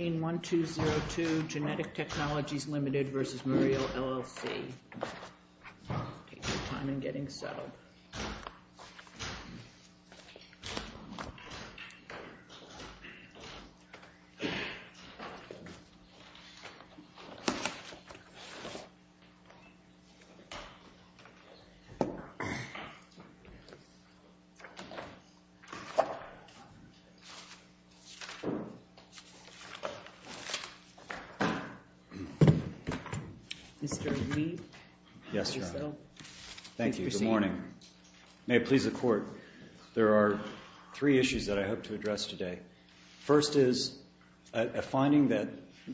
Take your time in getting settled. Mr. Reid, if you will, please proceed. Thank you. Good morning. May it please the Court, there are three issues that I hope to address today. First is a finding that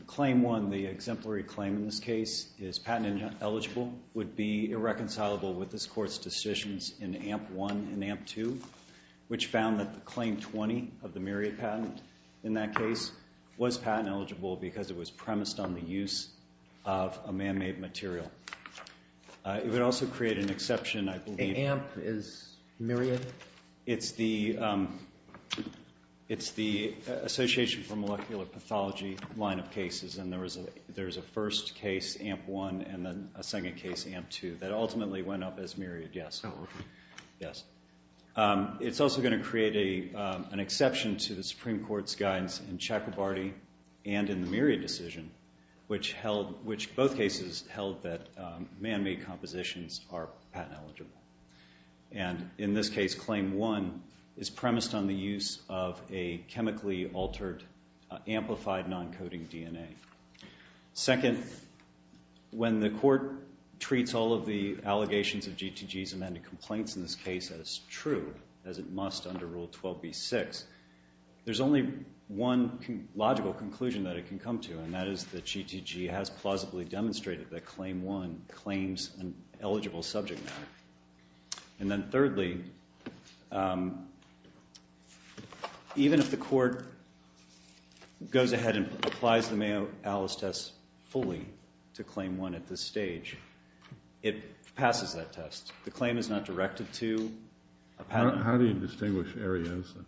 Claim 1, the exemplary claim in this case, is patent eligible would be irreconcilable with this Court's decisions in AMP 1 and AMP 2, which found that the Claim 20 of the Myriad patent in that case was patent eligible because it was premised on the use of a man-made material. It would also create an exception, I believe. AMP is Myriad? It's the Association for Molecular Pathology line of cases, and there is a first case, AMP 1, and then a second case, AMP 2, that ultimately went up as Myriad, yes. It's also going to create an exception to the Supreme Court's guidance in Chakrabarty and in the Myriad decision, which both cases held that man-made compositions are patent eligible. And in this case, Claim 1 is premised on the use of a chemically altered amplified non-coding DNA. Second, when the Court treats all of the allegations of GTG's amended complaints in this case as true, as it must under Rule 12b-6, there's only one logical conclusion that it can come to, and that is that GTG has plausibly demonstrated that Claim 1 claims an eligible subject matter. And then thirdly, even if the Court goes ahead and applies the Mayo-Alice test fully to Claim 1 at this stage, it passes that test. The claim is not directed to a patent. How do you distinguish Ariosa?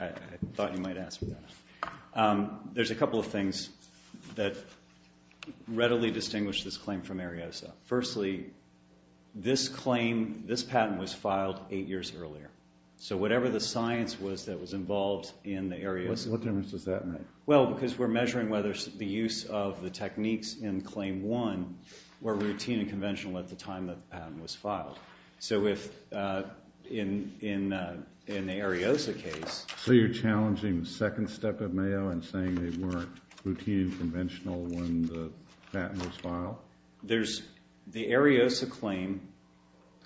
I thought you might ask me that. There's a couple of things that readily distinguish this claim from Ariosa. Firstly, this patent was filed eight years earlier. So whatever the science was that was involved in the Ariosa case... What difference does that make? Well, because we're measuring whether the use of the techniques in Claim 1 were routine and conventional at the time the patent was filed. So in the Ariosa case... So you're challenging the second step of Mayo and saying they weren't routine and conventional when the patent was filed? Well, the Ariosa claim,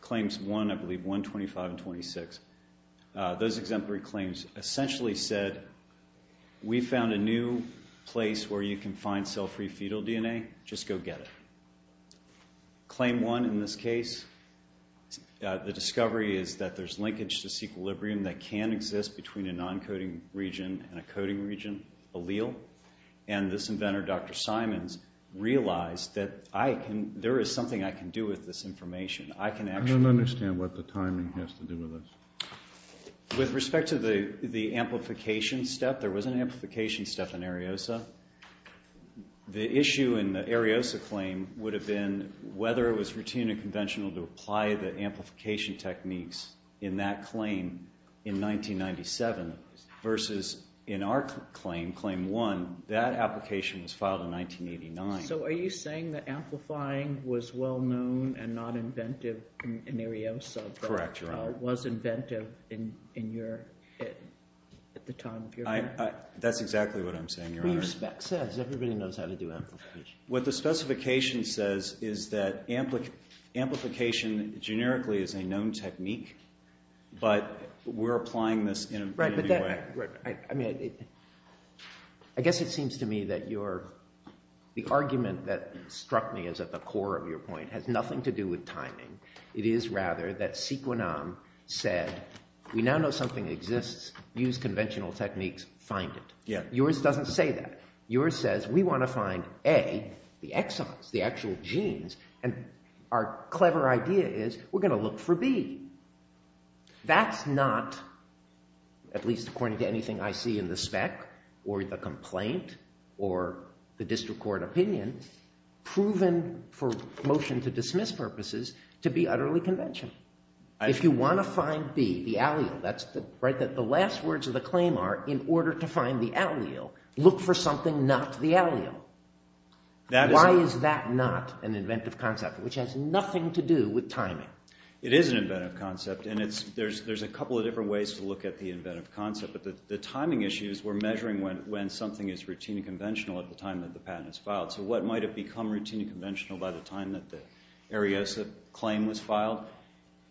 Claims 1, I believe, 125 and 26, those exemplary claims essentially said we found a new place where you can find cell-free fetal DNA. Just go get it. Claim 1 in this case, the discovery is that there's linkage disequilibrium that can exist between a non-coding region and a coding region allele. And this inventor, Dr. Simons, realized that there is something I can do with this information. I can actually... I don't understand what the timing has to do with this. With respect to the amplification step, there was an amplification step in Ariosa. The issue in the Ariosa claim would have been whether it was routine and conventional to Claim 1, that application was filed in 1989. So are you saying that amplifying was well known and not inventive in Ariosa, but was inventive at the time of your... That's exactly what I'm saying, Your Honor. But your spec says. Everybody knows how to do amplification. What the specification says is that amplification generically is a known technique, but we're applying this in a new way. Right. I mean, I guess it seems to me that your... The argument that struck me as at the core of your point has nothing to do with timing. It is rather that Sequinam said, we now know something exists, use conventional techniques, find it. Yeah. Yours doesn't say that. Yours says, we want to find, A, the exons, the actual genes. And our clever idea is we're going to look for B. That's not, at least according to anything I see in the spec, or the complaint, or the district court opinion, proven for motion to dismiss purposes to be utterly conventional. If you want to find B, the allele, that's the last words of the claim are, in order to find the allele, look for something not the allele. Why is that not an inventive concept, which has nothing to do with timing? It is an inventive concept, and there's a couple of different ways to look at the inventive concept. But the timing issues, we're measuring when something is routine and conventional at the time that the patent is filed. So what might have become routine and conventional by the time that the Ariesa claim was filed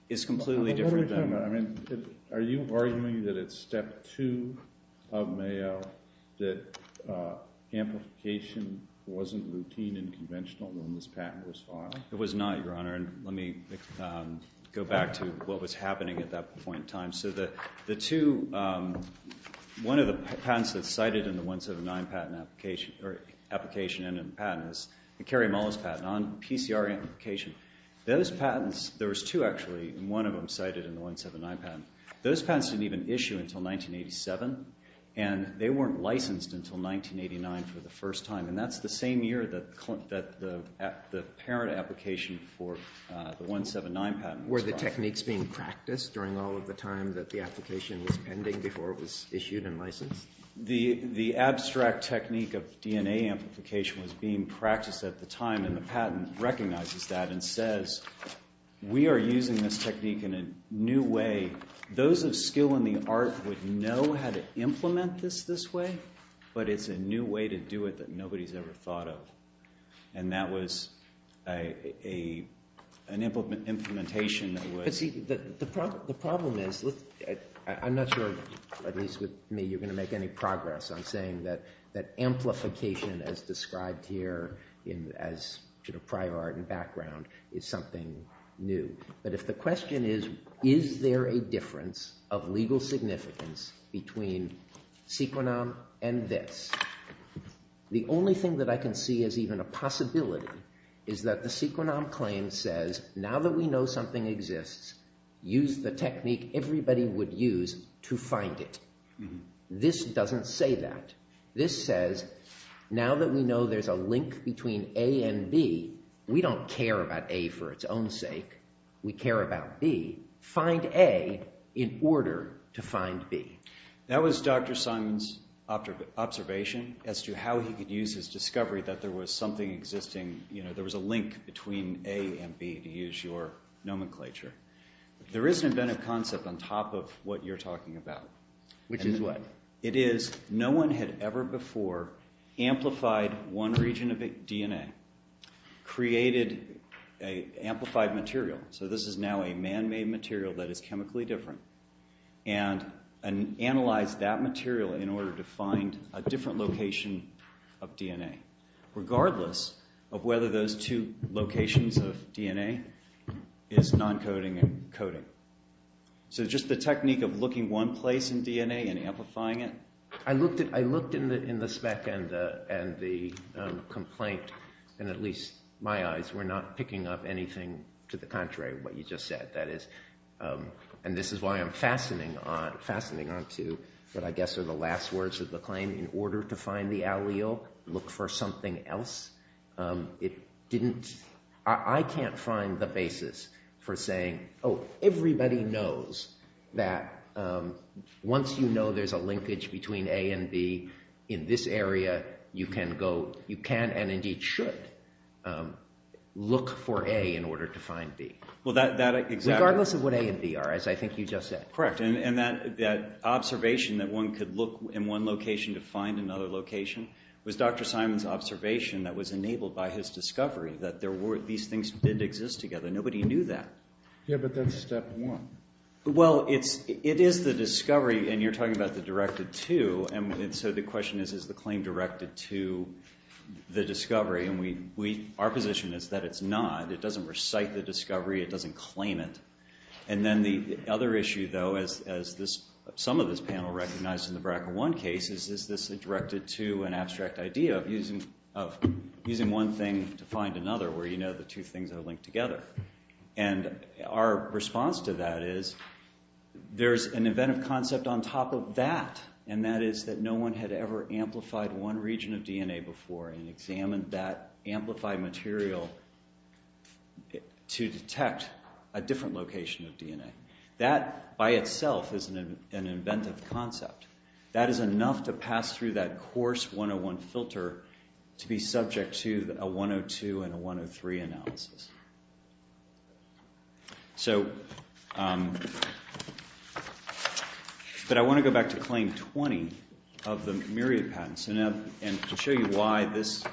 is completely different than... Let me jump in. I mean, are you arguing that it's step two of Mayo that amplification wasn't routine and conventional when this patent was filed? It was not, Your Honor. And let me go back to what was happening at that point in time. So the two... One of the patents that's cited in the 179 patent application and in the patent is the Kerry Mullis patent on PCR amplification. Those patents... There was two, actually, and one of them cited in the 179 patent. Those patents didn't even issue until 1987, and they weren't licensed until 1989 for the first time. And that's the same year that the parent application for the 179 patent was filed. Were the techniques being practiced during all of the time that the application was pending before it was issued and licensed? The abstract technique of DNA amplification was being practiced at the time, and the patent recognizes that and says, we are using this technique in a new way. Those of skill in the art would know how to implement this this way, but it's a new way to do it that nobody's ever thought of. And that was an implementation that was... But see, the problem is, I'm not sure, at least with me, you're going to make any progress on saying that amplification as described here as prior art and background is something new. But if the question is, is there a difference of legal significance between sequenom and this? The only thing that I can see as even a possibility is that the sequenom claim says, now that we know something exists, use the technique everybody would use to find it. This doesn't say that. This says, now that we know there's a link between A and B, we don't care about A for its own sake. We care about B. Find A in order to find B. That was Dr. Simon's observation as to how he could use his discovery that there was something existing, there was a link between A and B, to use your nomenclature. There is an inventive concept on top of what you're talking about. Which is what? It is, no one had ever before amplified one region of DNA, created an amplified material. This is now a man-made material that is chemically different. Analyze that material in order to find a different location of DNA, regardless of whether those two locations of DNA is non-coding and coding. Just the technique of looking one place in DNA and amplifying it. I looked in the spec and the complaint, and at least my eyes were not picking up anything to the contrary of what you just said. And this is why I'm fastening onto what I guess are the last words of the claim, in order to find the allele, look for something else. I can't find the basis for saying, oh, everybody knows that once you know there's a linkage between A and B in this area, you can and indeed should look for A in order to find B. Regardless of what A and B are, as I think you just said. Correct, and that observation that one could look in one location to find another location was Dr. Simon's observation that was enabled by his discovery that these things did exist together. Nobody knew that. Yeah, but that's step one. Well, it is the discovery, and you're talking about the directed to, and so the question is, is the claim directed to the discovery? Our position is that it's not. It doesn't recite the discovery. It doesn't claim it. And then the other issue, though, as some of this panel recognized in the BRCA1 case, is this directed to an abstract idea of using one thing to find another, where you know the two things are linked together. And our response to that is, there's an inventive concept on top of that, and that is that no one had ever amplified one region of DNA before and examined that amplified material to detect a different location of DNA. That by itself is an inventive concept. That is enough to pass through that coarse 101 filter to be subject to a 102 and a 103 analysis. But I want to go back to Claim 20 of the Myriad Patent, and to show you why this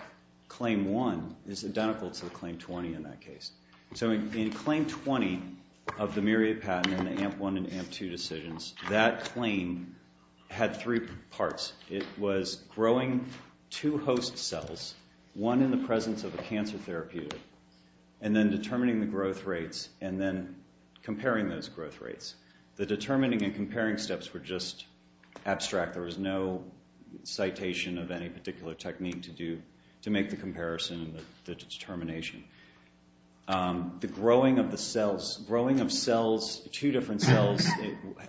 Claim 1 is identical to the Claim 20 in that case. So in Claim 20 of the Myriad Patent and the AMP1 and AMP2 decisions, that claim had three parts. It was growing two host cells, one in the presence of a cancer therapeutic, and then determining the growth rates, and then comparing those growth rates. The determining and comparing steps were just abstract. There was no citation of any particular technique to make the comparison and the determination. The growing of the cells, growing of two different cells,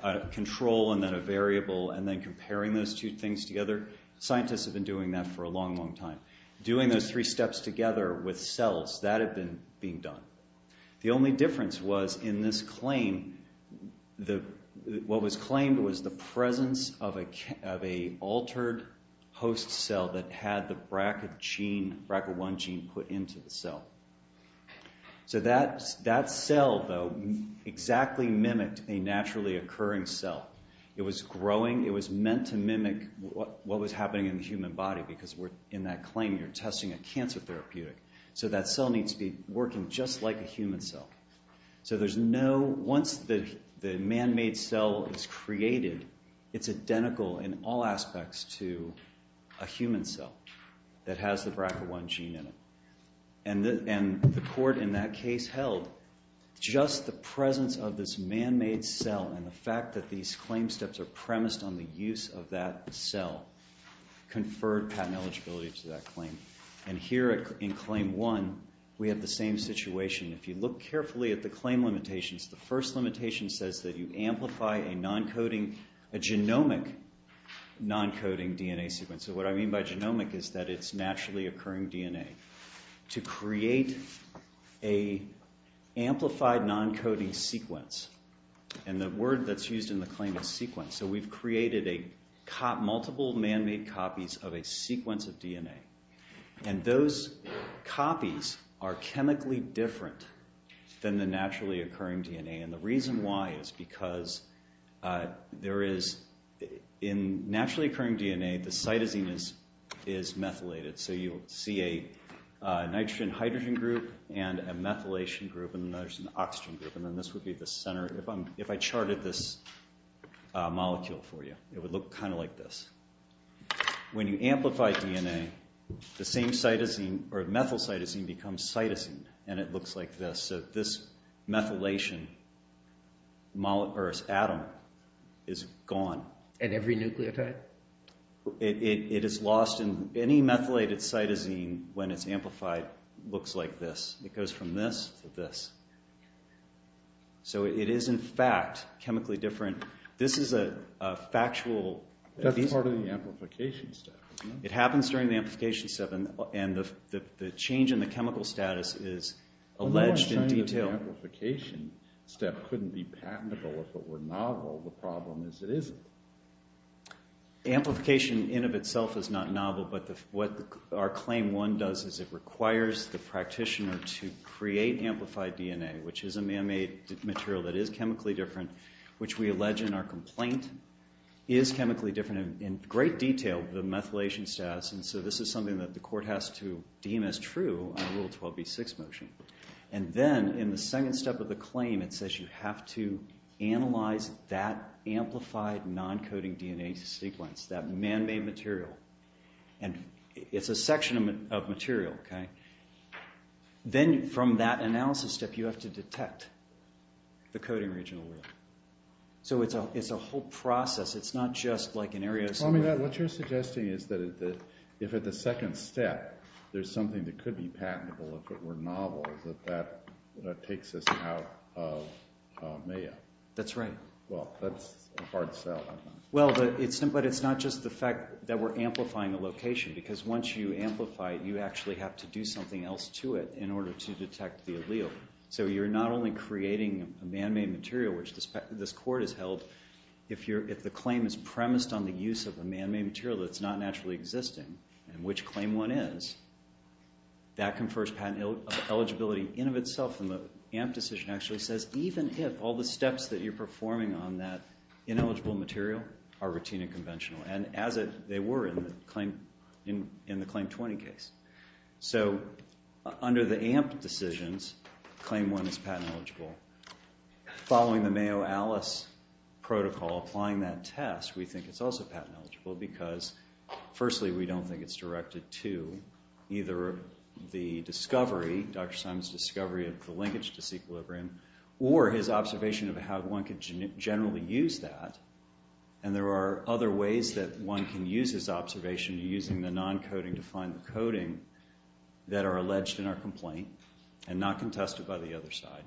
a control and then a variable, and then comparing those two things together. Scientists have been doing that for a long, long time. Doing those three steps together with cells, that had been being done. The only difference was in this claim, what was claimed was the presence of an altered host cell that had the BRCA1 gene put into the cell. So that cell, though, exactly mimicked a naturally occurring cell. It was growing. It was meant to mimic what was happening in the human body, because in that claim you're testing a cancer therapeutic. So that cell needs to be working just like a human cell. So once the man-made cell is created, it's identical in all aspects to a human cell that has the BRCA1 gene in it. And the court in that case held just the presence of this man-made cell and the fact that these claim steps are premised on the use of that cell, conferred patent eligibility to that claim. And here in claim one, we have the same situation. If you look carefully at the claim limitations, the first limitation says that you amplify a non-coding, a genomic non-coding DNA sequence. So what I mean by genomic is that it's naturally occurring DNA. To create a amplified non-coding sequence, and the word that's used in the claim is sequence. So we've created multiple man-made copies of a sequence of DNA. And those copies are chemically different than the naturally occurring DNA. And the reason why is because there is, in naturally occurring DNA, the cytosine is methylated. So you'll see a nitrogen-hydrogen group and a methylation group and there's an oxygen group. And then this would be the center. If I charted this molecule for you, it would look kind of like this. When you amplify DNA, the same cytosine or methyl cytosine becomes cytosine and it looks like this. So this methylation atom is gone. And every nucleotide? It is lost. Any methylated cytosine, when it's amplified, looks like this. It goes from this to this. So it is, in fact, chemically different. This is a factual. That's part of the amplification step. It happens during the amplification step and the change in the chemical status is alleged in detail. So the amplification step couldn't be patentable if it were novel, the problem is it isn't. Amplification in of itself is not novel, but what our claim 1 does is it requires the practitioner to create amplified DNA, which is a man-made material that is chemically different, which we allege in our complaint is chemically different in great detail, the methylation status. And so this is something that the court has to deem as true on Rule 12b6 motion. And then, in the second step of the claim, it says you have to analyze that amplified non-coding DNA sequence, that man-made material. And it's a section of material, okay? Then from that analysis step, you have to detect the coding region of the world. So it's a whole process. It's not just like an area of somewhere. Well, I mean, what you're suggesting is that if at the second step there's something that is patentable, that that takes us out of MAYA. That's right. Well, that's a hard sell. Well, but it's not just the fact that we're amplifying a location, because once you amplify it, you actually have to do something else to it in order to detect the allele. So you're not only creating a man-made material, which this court has held, if the claim is premised on the use of a man-made material that's not naturally existing, and which claim one is, that confers patent eligibility in of itself. And the AMP decision actually says even if all the steps that you're performing on that ineligible material are routine and conventional, and as they were in the Claim 20 case. So under the AMP decisions, claim one is patent eligible. Following the Mayo Alice protocol, applying that test, we think it's also patent eligible, because firstly, we don't think it's directed to either the discovery, Dr. Simon's discovery of the linkage disequilibrium, or his observation of how one could generally use that. And there are other ways that one can use his observation using the non-coding to find the coding that are alleged in our complaint, and not contested by the other side.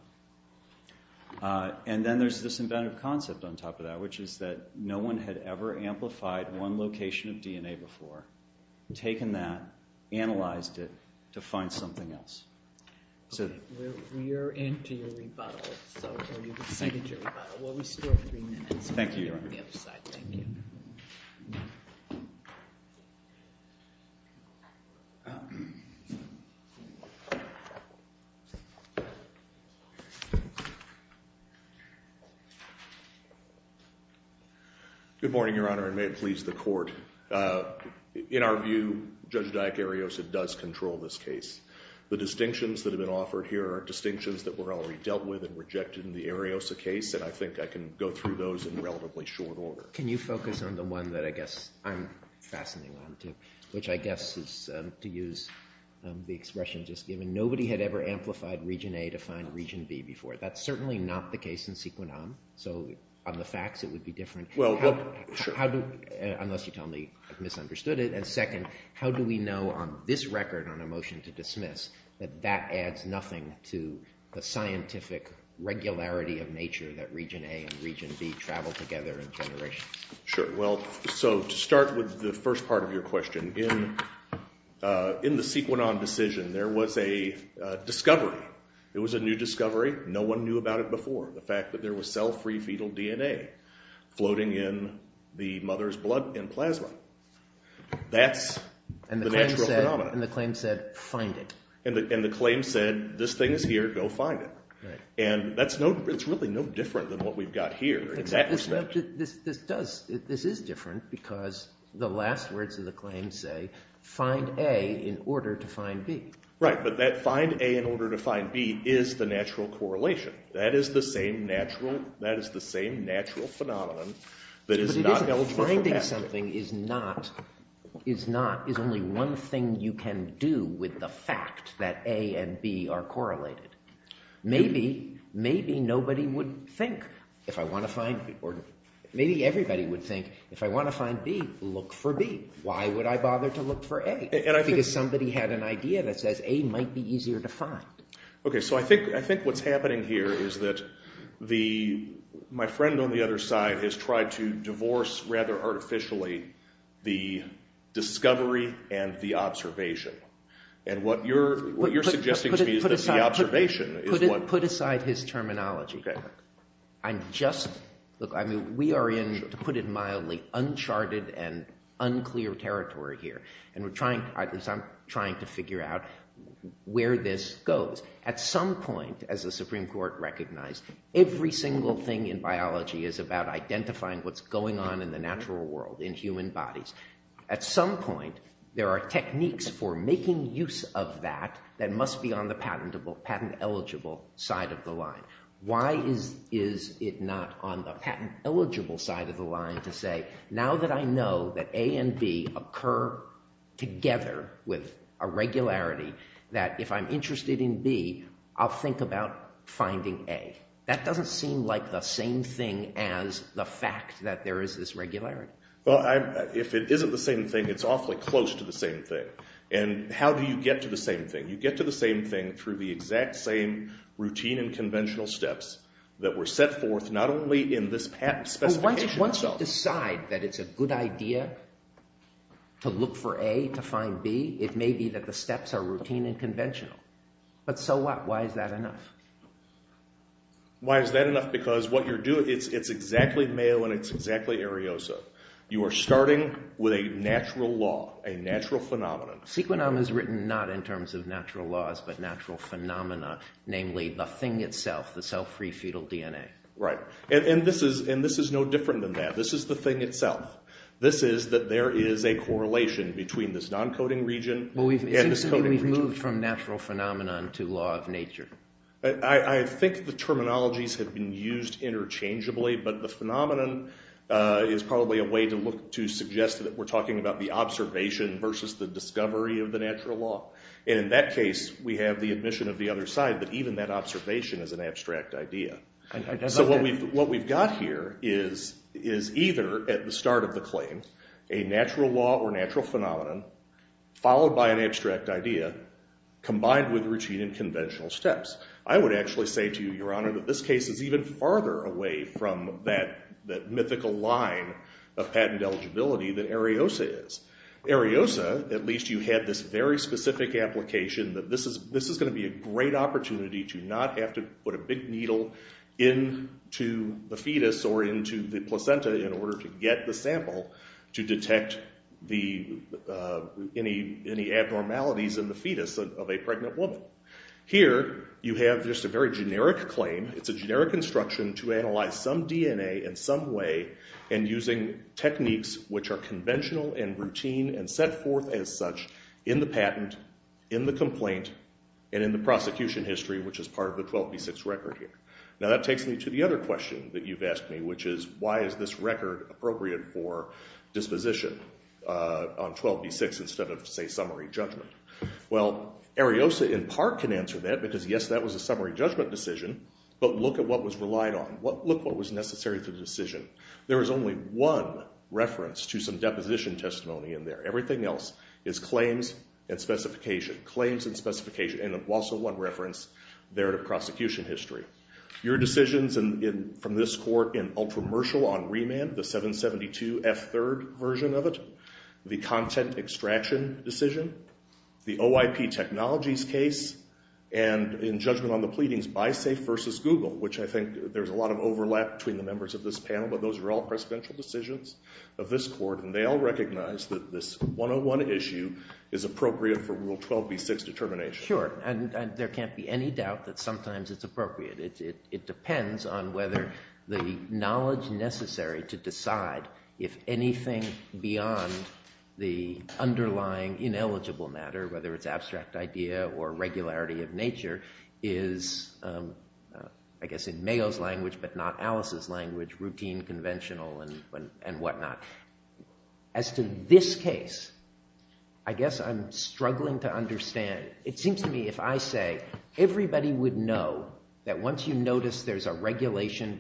And then there's this inventive concept on top of that, which is that no one had ever amplified one location of DNA before, taken that, analyzed it, to find something else. We are into your rebuttal, so we'll restore three minutes. Good morning, Your Honor, and may it please the court. In our view, Judge Dyack Ariosa does control this case. The distinctions that have been offered here are distinctions that were already dealt with and rejected in the Ariosa case, and I think I can go through those in relatively short order. Can you focus on the one that I guess I'm fastening onto, which I guess is to use the expression just given, nobody had ever amplified region A to find region B before. That's certainly not the case in Sequinam, so on the facts it would be different. Well, sure. How do, unless you tell me I've misunderstood it, and second, how do we know on this record on a motion to dismiss that that adds nothing to the scientific regularity of nature that region A and region B travel together in generations? Sure. Well, so to start with the first part of your question, in the Sequinam decision there was a discovery. It was a new discovery. No one knew about it before, the fact that there was cell-free fetal DNA floating in the mother's blood and plasma. That's the natural phenomenon. And the claim said, find it. And the claim said, this thing is here, go find it. And that's no, it's really no different than what we've got here in that respect. This does, this is different because the last words of the claim say, find A in order to find B. Right, but that find A in order to find B is the natural correlation. That is the same natural, that is the same natural phenomenon that is not eligible for with the fact that A and B are correlated. Maybe, maybe nobody would think, if I want to find B, or maybe everybody would think, if I want to find B, look for B. Why would I bother to look for A? Because somebody had an idea that says A might be easier to find. Okay, so I think what's happening here is that the, my friend on the other side has tried to divorce, rather artificially, the discovery and the observation. And what you're, what you're suggesting to me is that the observation is what... Put aside his terminology. I'm just, look, I mean, we are in, to put it mildly, uncharted and unclear territory here. And we're trying, I'm trying to figure out where this goes. At some point, as the Supreme Court recognized, every single thing in biology is about identifying what's going on in the natural world, in human bodies. At some point, there are techniques for making use of that that must be on the patentable, patent eligible side of the line. Why is, is it not on the patent eligible side of the line to say, now that I know that A and B occur together with a regularity, that if I'm interested in B, I'll think about finding A? That doesn't seem like the same thing as the fact that there is this regularity. Well, I, if it isn't the same thing, it's awfully close to the same thing. And how do you get to the same thing? You get to the same thing through the exact same routine and conventional steps that were set forth, not only in this patent specification. Once you decide that it's a good idea to look for A, to find B, it may be that the steps are routine and conventional. But so what? Why is that enough? Why is that enough? Because what you're doing, it's exactly Mayo, and it's exactly Ariosa. You are starting with a natural law, a natural phenomenon. Sequinom is written not in terms of natural laws, but natural phenomena, namely the thing itself, the self-free fetal DNA. Right. And this is, and this is no different than that. This is the thing itself. This is that there is a correlation between this non-coding region and this coding region. It seems to me we've moved from natural phenomenon to law of nature. I think the terminologies have been used interchangeably, but the phenomenon is probably a way to look, to suggest that we're talking about the observation versus the discovery of the natural law. And in that case, we have the admission of the other side that even that observation is an abstract idea. So what we've, what we've got here is, is either at the start of the claim, a natural law or natural phenomenon, followed by an abstract idea, combined with routine and conventional steps. I would actually say to you, Your Honor, that this case is even farther away from that, that mythical line of patent eligibility that Ariosa is. Ariosa, at least you had this very specific application that this is, this is going to be a great opportunity to not have to put a big needle into the fetus or into the placenta in order to get the sample to detect the, any, any abnormalities in the fetus of a pregnant woman. Here, you have just a very generic claim. It's a generic instruction to analyze some DNA in some way and using techniques which are conventional and routine and set forth as such in the patent, in the complaint, and in the prosecution history, which is part of the 12B6 record here. Now, that takes me to the other question that you've asked me, which is, why is this record appropriate for disposition on 12B6 instead of, say, summary judgment? Well, Ariosa in part can answer that because, yes, that was a summary judgment decision, but look at what was relied on, what, look what was necessary to the decision. There is only one reference to some deposition testimony in there. Everything else is claims and specification, claims and specification. And there's also one reference there to prosecution history. Your decisions from this court in ultra-mercial on remand, the 772F3rd version of it, the content extraction decision, the OIP Technologies case, and in judgment on the pleadings by SAFE versus Google, which I think there's a lot of overlap between the members of this panel, but those are all presidential decisions of this court, and they all recognize that this 101 issue is appropriate for Rule 12B6 determination. Sure, and there can't be any doubt that sometimes it's appropriate. It depends on whether the knowledge necessary to decide if anything beyond the underlying ineligible matter, whether it's abstract idea or regularity of nature, is, I guess in Mayo's language but not Alice's language, routine, conventional, and whatnot. As to this case, I guess I'm struggling to understand. It seems to me if I say everybody would know that once you notice there's a regulation,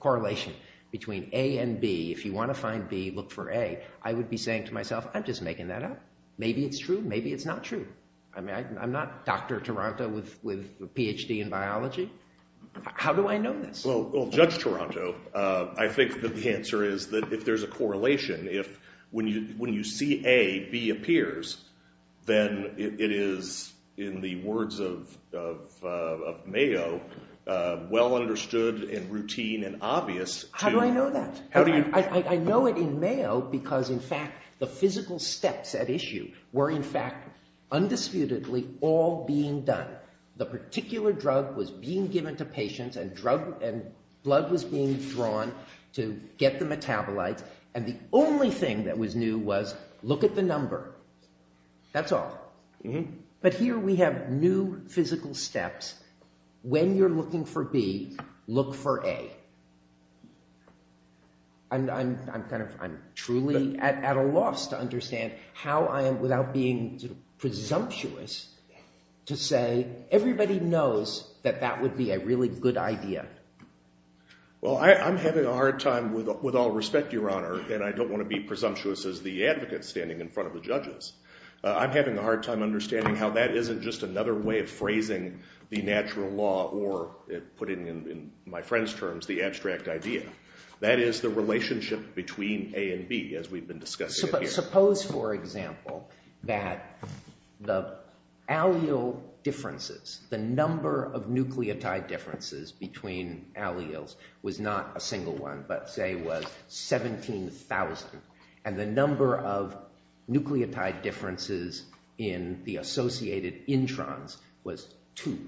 correlation between A and B, if you want to find B, look for A, I would be saying to myself, I'm just making that up. Maybe it's true, maybe it's not true. I mean, I'm not Dr. Taranto with a PhD in biology. How do I know this? Well, Judge Taranto, I think that the answer is that if there's a correlation, if when you see A, B appears, then it is, in the words of Mayo, well understood and routine and obvious to- How do I know that? I know it in Mayo because, in fact, the physical steps at issue were, in fact, undisputedly all being done. The particular drug was being given to patients and blood was being drawn to get the metabolites and the only thing that was new was, look at the number, that's all. But here we have new physical steps. When you're looking for B, look for A. I'm truly at a loss to understand how I am, without being presumptuous, to say everybody knows that that would be a really good idea. Well, I'm having a hard time, with all respect, Your Honor, and I don't want to be presumptuous as the advocate standing in front of the judges. I'm having a hard time understanding how that isn't just another way of phrasing the natural law or, putting it in my friend's terms, the abstract idea. That is the relationship between A and B, as we've been discussing it here. But suppose, for example, that the allele differences, the number of nucleotide differences between alleles was not a single one but, say, was 17,000 and the number of nucleotide differences in the associated introns was two.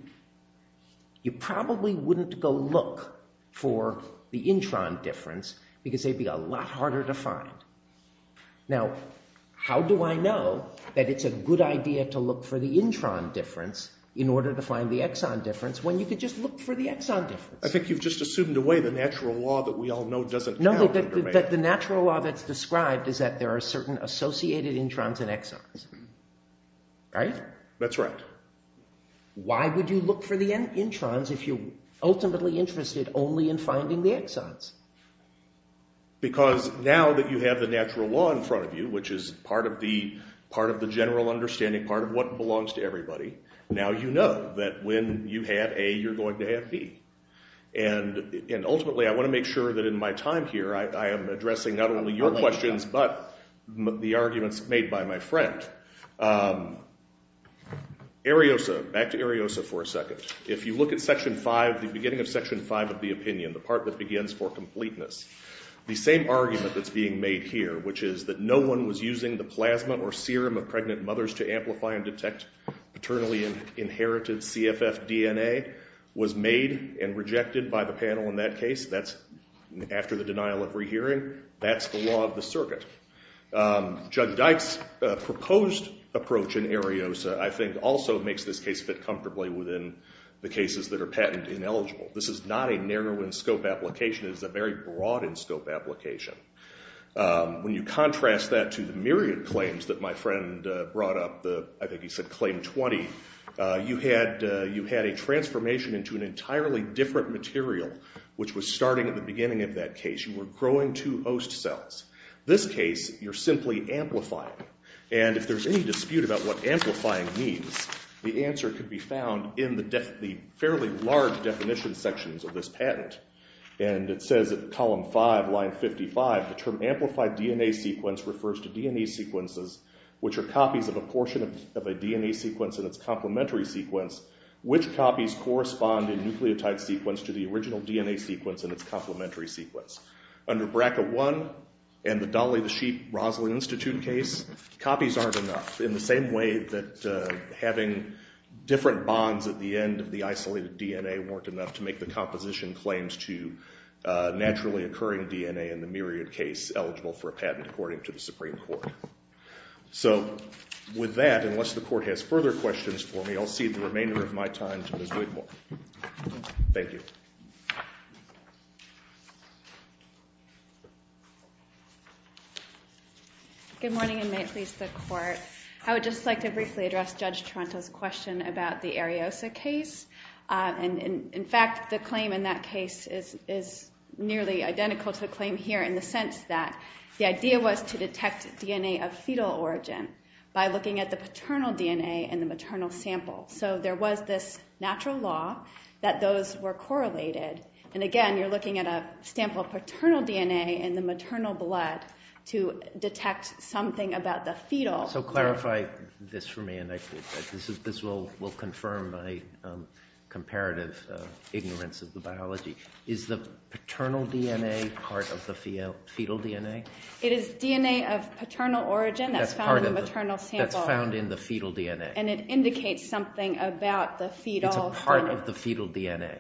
You probably wouldn't go look for the intron difference because they'd be a lot harder to find. Now, how do I know that it's a good idea to look for the intron difference in order to find the exon difference when you could just look for the exon difference? I think you've just assumed away the natural law that we all know doesn't count in derivation. No, the natural law that's described is that there are certain associated introns and exons. Right? That's right. Why would you look for the introns if you're ultimately interested only in finding the exons? Because now that you have the natural law in front of you, which is part of the general understanding part of what belongs to everybody, now you know that when you have A, you're going to have B. And ultimately, I want to make sure that in my time here, I am addressing not only your questions but the arguments made by my friend. Ariosa. Back to Ariosa for a second. If you look at Section 5, the beginning of Section 5 of the opinion, the part that begins for completeness. The same argument that's being made here, which is that no one was using the plasma or serum of pregnant mothers to amplify and detect paternally inherited CFF DNA, was made and rejected by the panel in that case. That's after the denial of rehearing. That's the law of the circuit. Judd Dyke's proposed approach in Ariosa, I think, also makes this case fit comfortably within the cases that are patent ineligible. This is not a narrow-in-scope application. It is a very broad-in-scope application. When you contrast that to the myriad claims that my friend brought up, I think he said Claim 20, you had a transformation into an entirely different material, which was starting at the beginning of that case. You were growing two host cells. This case, you're simply amplifying. And if there's any dispute about what amplifying means, the answer could be found in the fairly large definition sections of this patent. And it says in Column 5, Line 55, the term amplified DNA sequence refers to DNA sequences which are copies of a portion of a DNA sequence in its complementary sequence, which copies correspond in nucleotide sequence to the original DNA sequence in its complementary sequence. Under BRCA1 and the Dolly the Sheep-Roslin Institute case, copies aren't enough, in the same way that having different bonds at the end of the isolated DNA weren't enough to make the composition claims to naturally occurring DNA in the myriad case eligible for a patent, according to the Supreme Court. So with that, unless the Court has further questions for me, I'll cede the remainder of my time to Ms. Wigmore. Thank you. Good morning, and may it please the Court. I would just like to briefly address Judge Toronto's question about the Ariosa case. In fact, the claim in that case is nearly identical to the claim here in the sense that the idea was to detect DNA of fetal origin by looking at the paternal DNA in the maternal sample. So there was this natural law that those were correlated. And again, you're looking at a sample of paternal DNA in the maternal blood to detect something about the fetal. So clarify this for me, and this will confirm my comparative ignorance of the biology. Is the paternal DNA part of the fetal DNA? It is DNA of paternal origin that's found in the maternal sample. That's found in the fetal DNA. And it indicates something about the fetal. It's a part of the fetal DNA.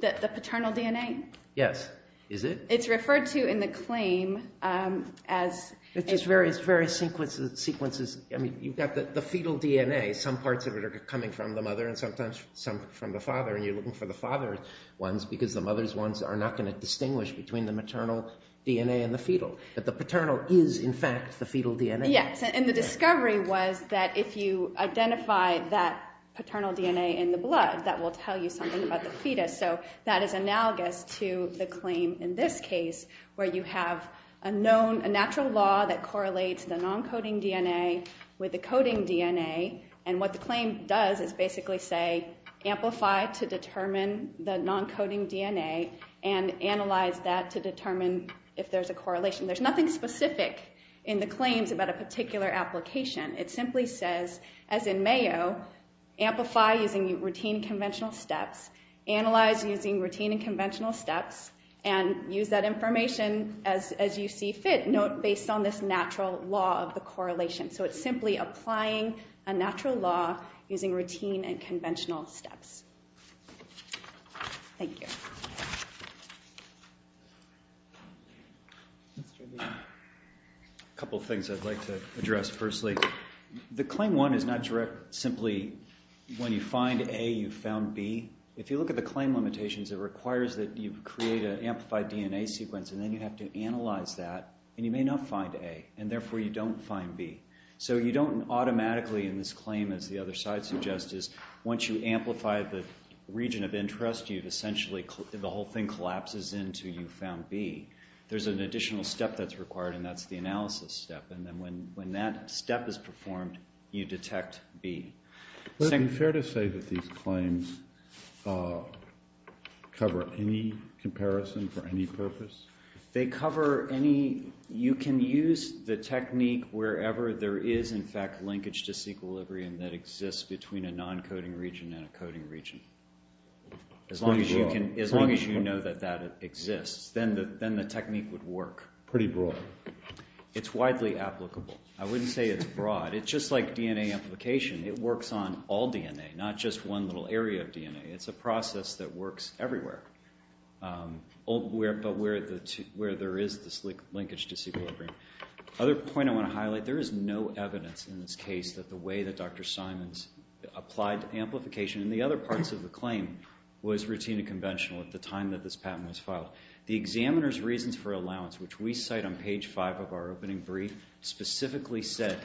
The paternal DNA? Yes. Is it? It's referred to in the claim as... It's just various sequences. I mean, you've got the fetal DNA. Some parts of it are coming from the mother and sometimes some from the father, and you're looking for the father ones because the mother's ones are not going to distinguish between the maternal DNA and the fetal. But the paternal is, in fact, the fetal DNA. Yes. And the discovery was that if you identify that paternal DNA in the blood, that will tell you something about the fetus. So that is analogous to the claim in this case where you have a natural law that correlates the non-coding DNA with the coding DNA. And what the claim does is basically say, amplify to determine the non-coding DNA and analyze that to determine if there's a correlation. There's nothing specific in the claims about a particular application. It simply says, as in Mayo, amplify using routine and conventional steps, analyze using routine and conventional steps, and use that information as you see fit. Note, based on this natural law of the correlation. So it's simply applying a natural law using routine and conventional steps. Thank you. A couple of things I'd like to address, firstly. The claim one is not directly, simply, when you find A, you found B. If you look at the claim limitations, it requires that you create an amplified DNA sequence, and then you have to analyze that. And you may not find A, and therefore you don't find B. So you don't automatically, in this claim, as the other side suggests, is once you amplify the region of interest, you've essentially, the whole thing collapses into you found B. There's an additional step that's required, and that's the analysis step. And then when that step is performed, you detect B. Would it be fair to say that these claims cover any comparison for any purpose? They cover any, you can use the technique wherever there is, in fact, linkage disequilibrium that exists between a non-coding region and a coding region. As long as you know that that exists. Then the technique would work. Pretty broad. It's widely applicable. I wouldn't say it's broad. It's just like DNA amplification. It works on all DNA, not just one little area of DNA. It's a process that works everywhere, but where there is this linkage disequilibrium. Another point I want to highlight, there is no evidence in this case that the way that Dr. Simons applied amplification in the other parts of the claim was routine and conventional at the time that this patent was filed. The examiner's reasons for allowance, which we cite on page 5 of our opening brief, specifically said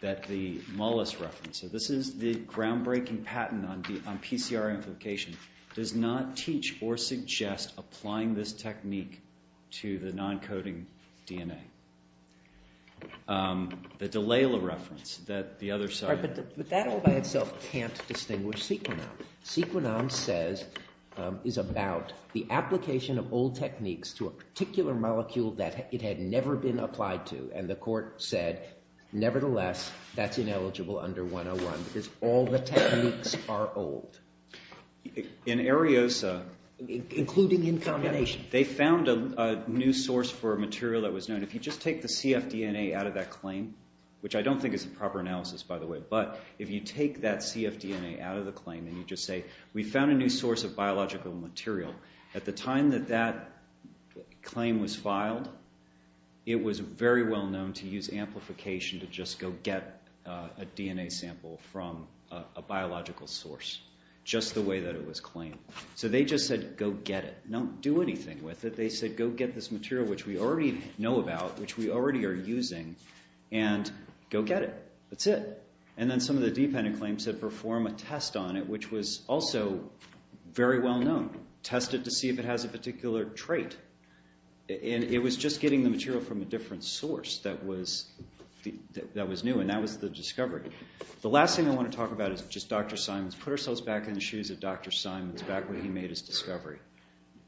that the Mullis reference, so this is the groundbreaking patent on PCR amplification, does not teach or suggest applying this technique to the non-coding DNA. The Delayla reference, that the other side... But that all by itself can't distinguish Sequinon. Sequinon says is about the application of old techniques to a particular molecule that it had never been applied to, and the court said, nevertheless, that's ineligible under 101 because all the techniques are old. In Areosa... Including in combination. They found a new source for a material that was known. If you just take the CFDNA out of that claim, which I don't think is a proper analysis, by the way, but if you take that CFDNA out of the claim and you just say, we found a new source of biological material. At the time that that claim was filed, it was very well known to use amplification to just go get a DNA sample from a biological source, just the way that it was claimed. So they just said, go get it. Don't do anything with it. They said, go get this material, which we already know about, which we already are using, and go get it. That's it. And then some of the dependent claims said perform a test on it, which was also very well known. Test it to see if it has a particular trait. And it was just getting the material from a different source that was new, and that was the discovery. The last thing I want to talk about is just Dr. Simons. Put ourselves back in the shoes of Dr. Simons, back when he made his discovery.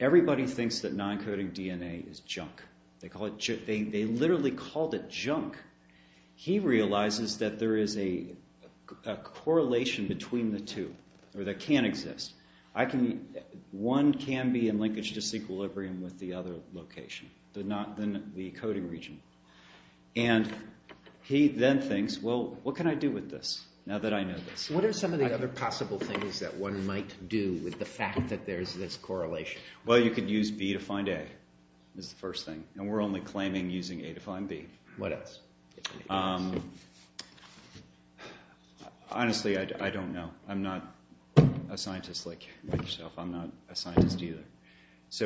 Everybody thinks that non-coding DNA is junk. They literally called it junk. He realizes that there is a correlation between the two that can exist. One can be in linkage disequilibrium with the other location, the coding region. And he then thinks, well, what can I do with this now that I know this? What are some of the other possible things that one might do with the fact that there is this correlation? Well, you could use B to find A is the first thing. And we're only claiming using A to find B. What else? Honestly, I don't know. I'm not a scientist like yourself. I'm not a scientist either.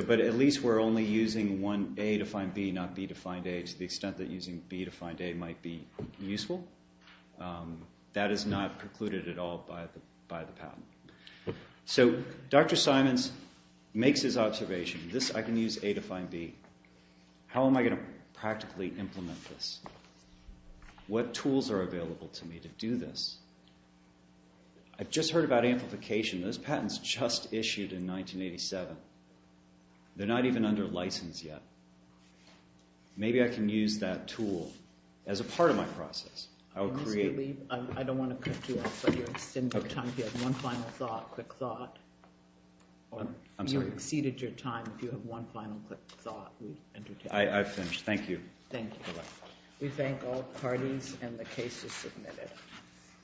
But at least we're only using one A to find B, not B to find A, to the extent that using B to find A might be useful. That is not precluded at all by the patent. So Dr. Simons makes his observation. This I can use A to find B. How am I going to practically implement this? What tools are available to me to do this? I've just heard about amplification. Those patents just issued in 1987. They're not even under license yet. Maybe I can use that tool as a part of my process. I don't want to cut you off, but you're extending your time. If you have one final thought, quick thought. You've exceeded your time. If you have one final quick thought. I've finished. Thank you. Thank you. We thank all parties, and the case is submitted.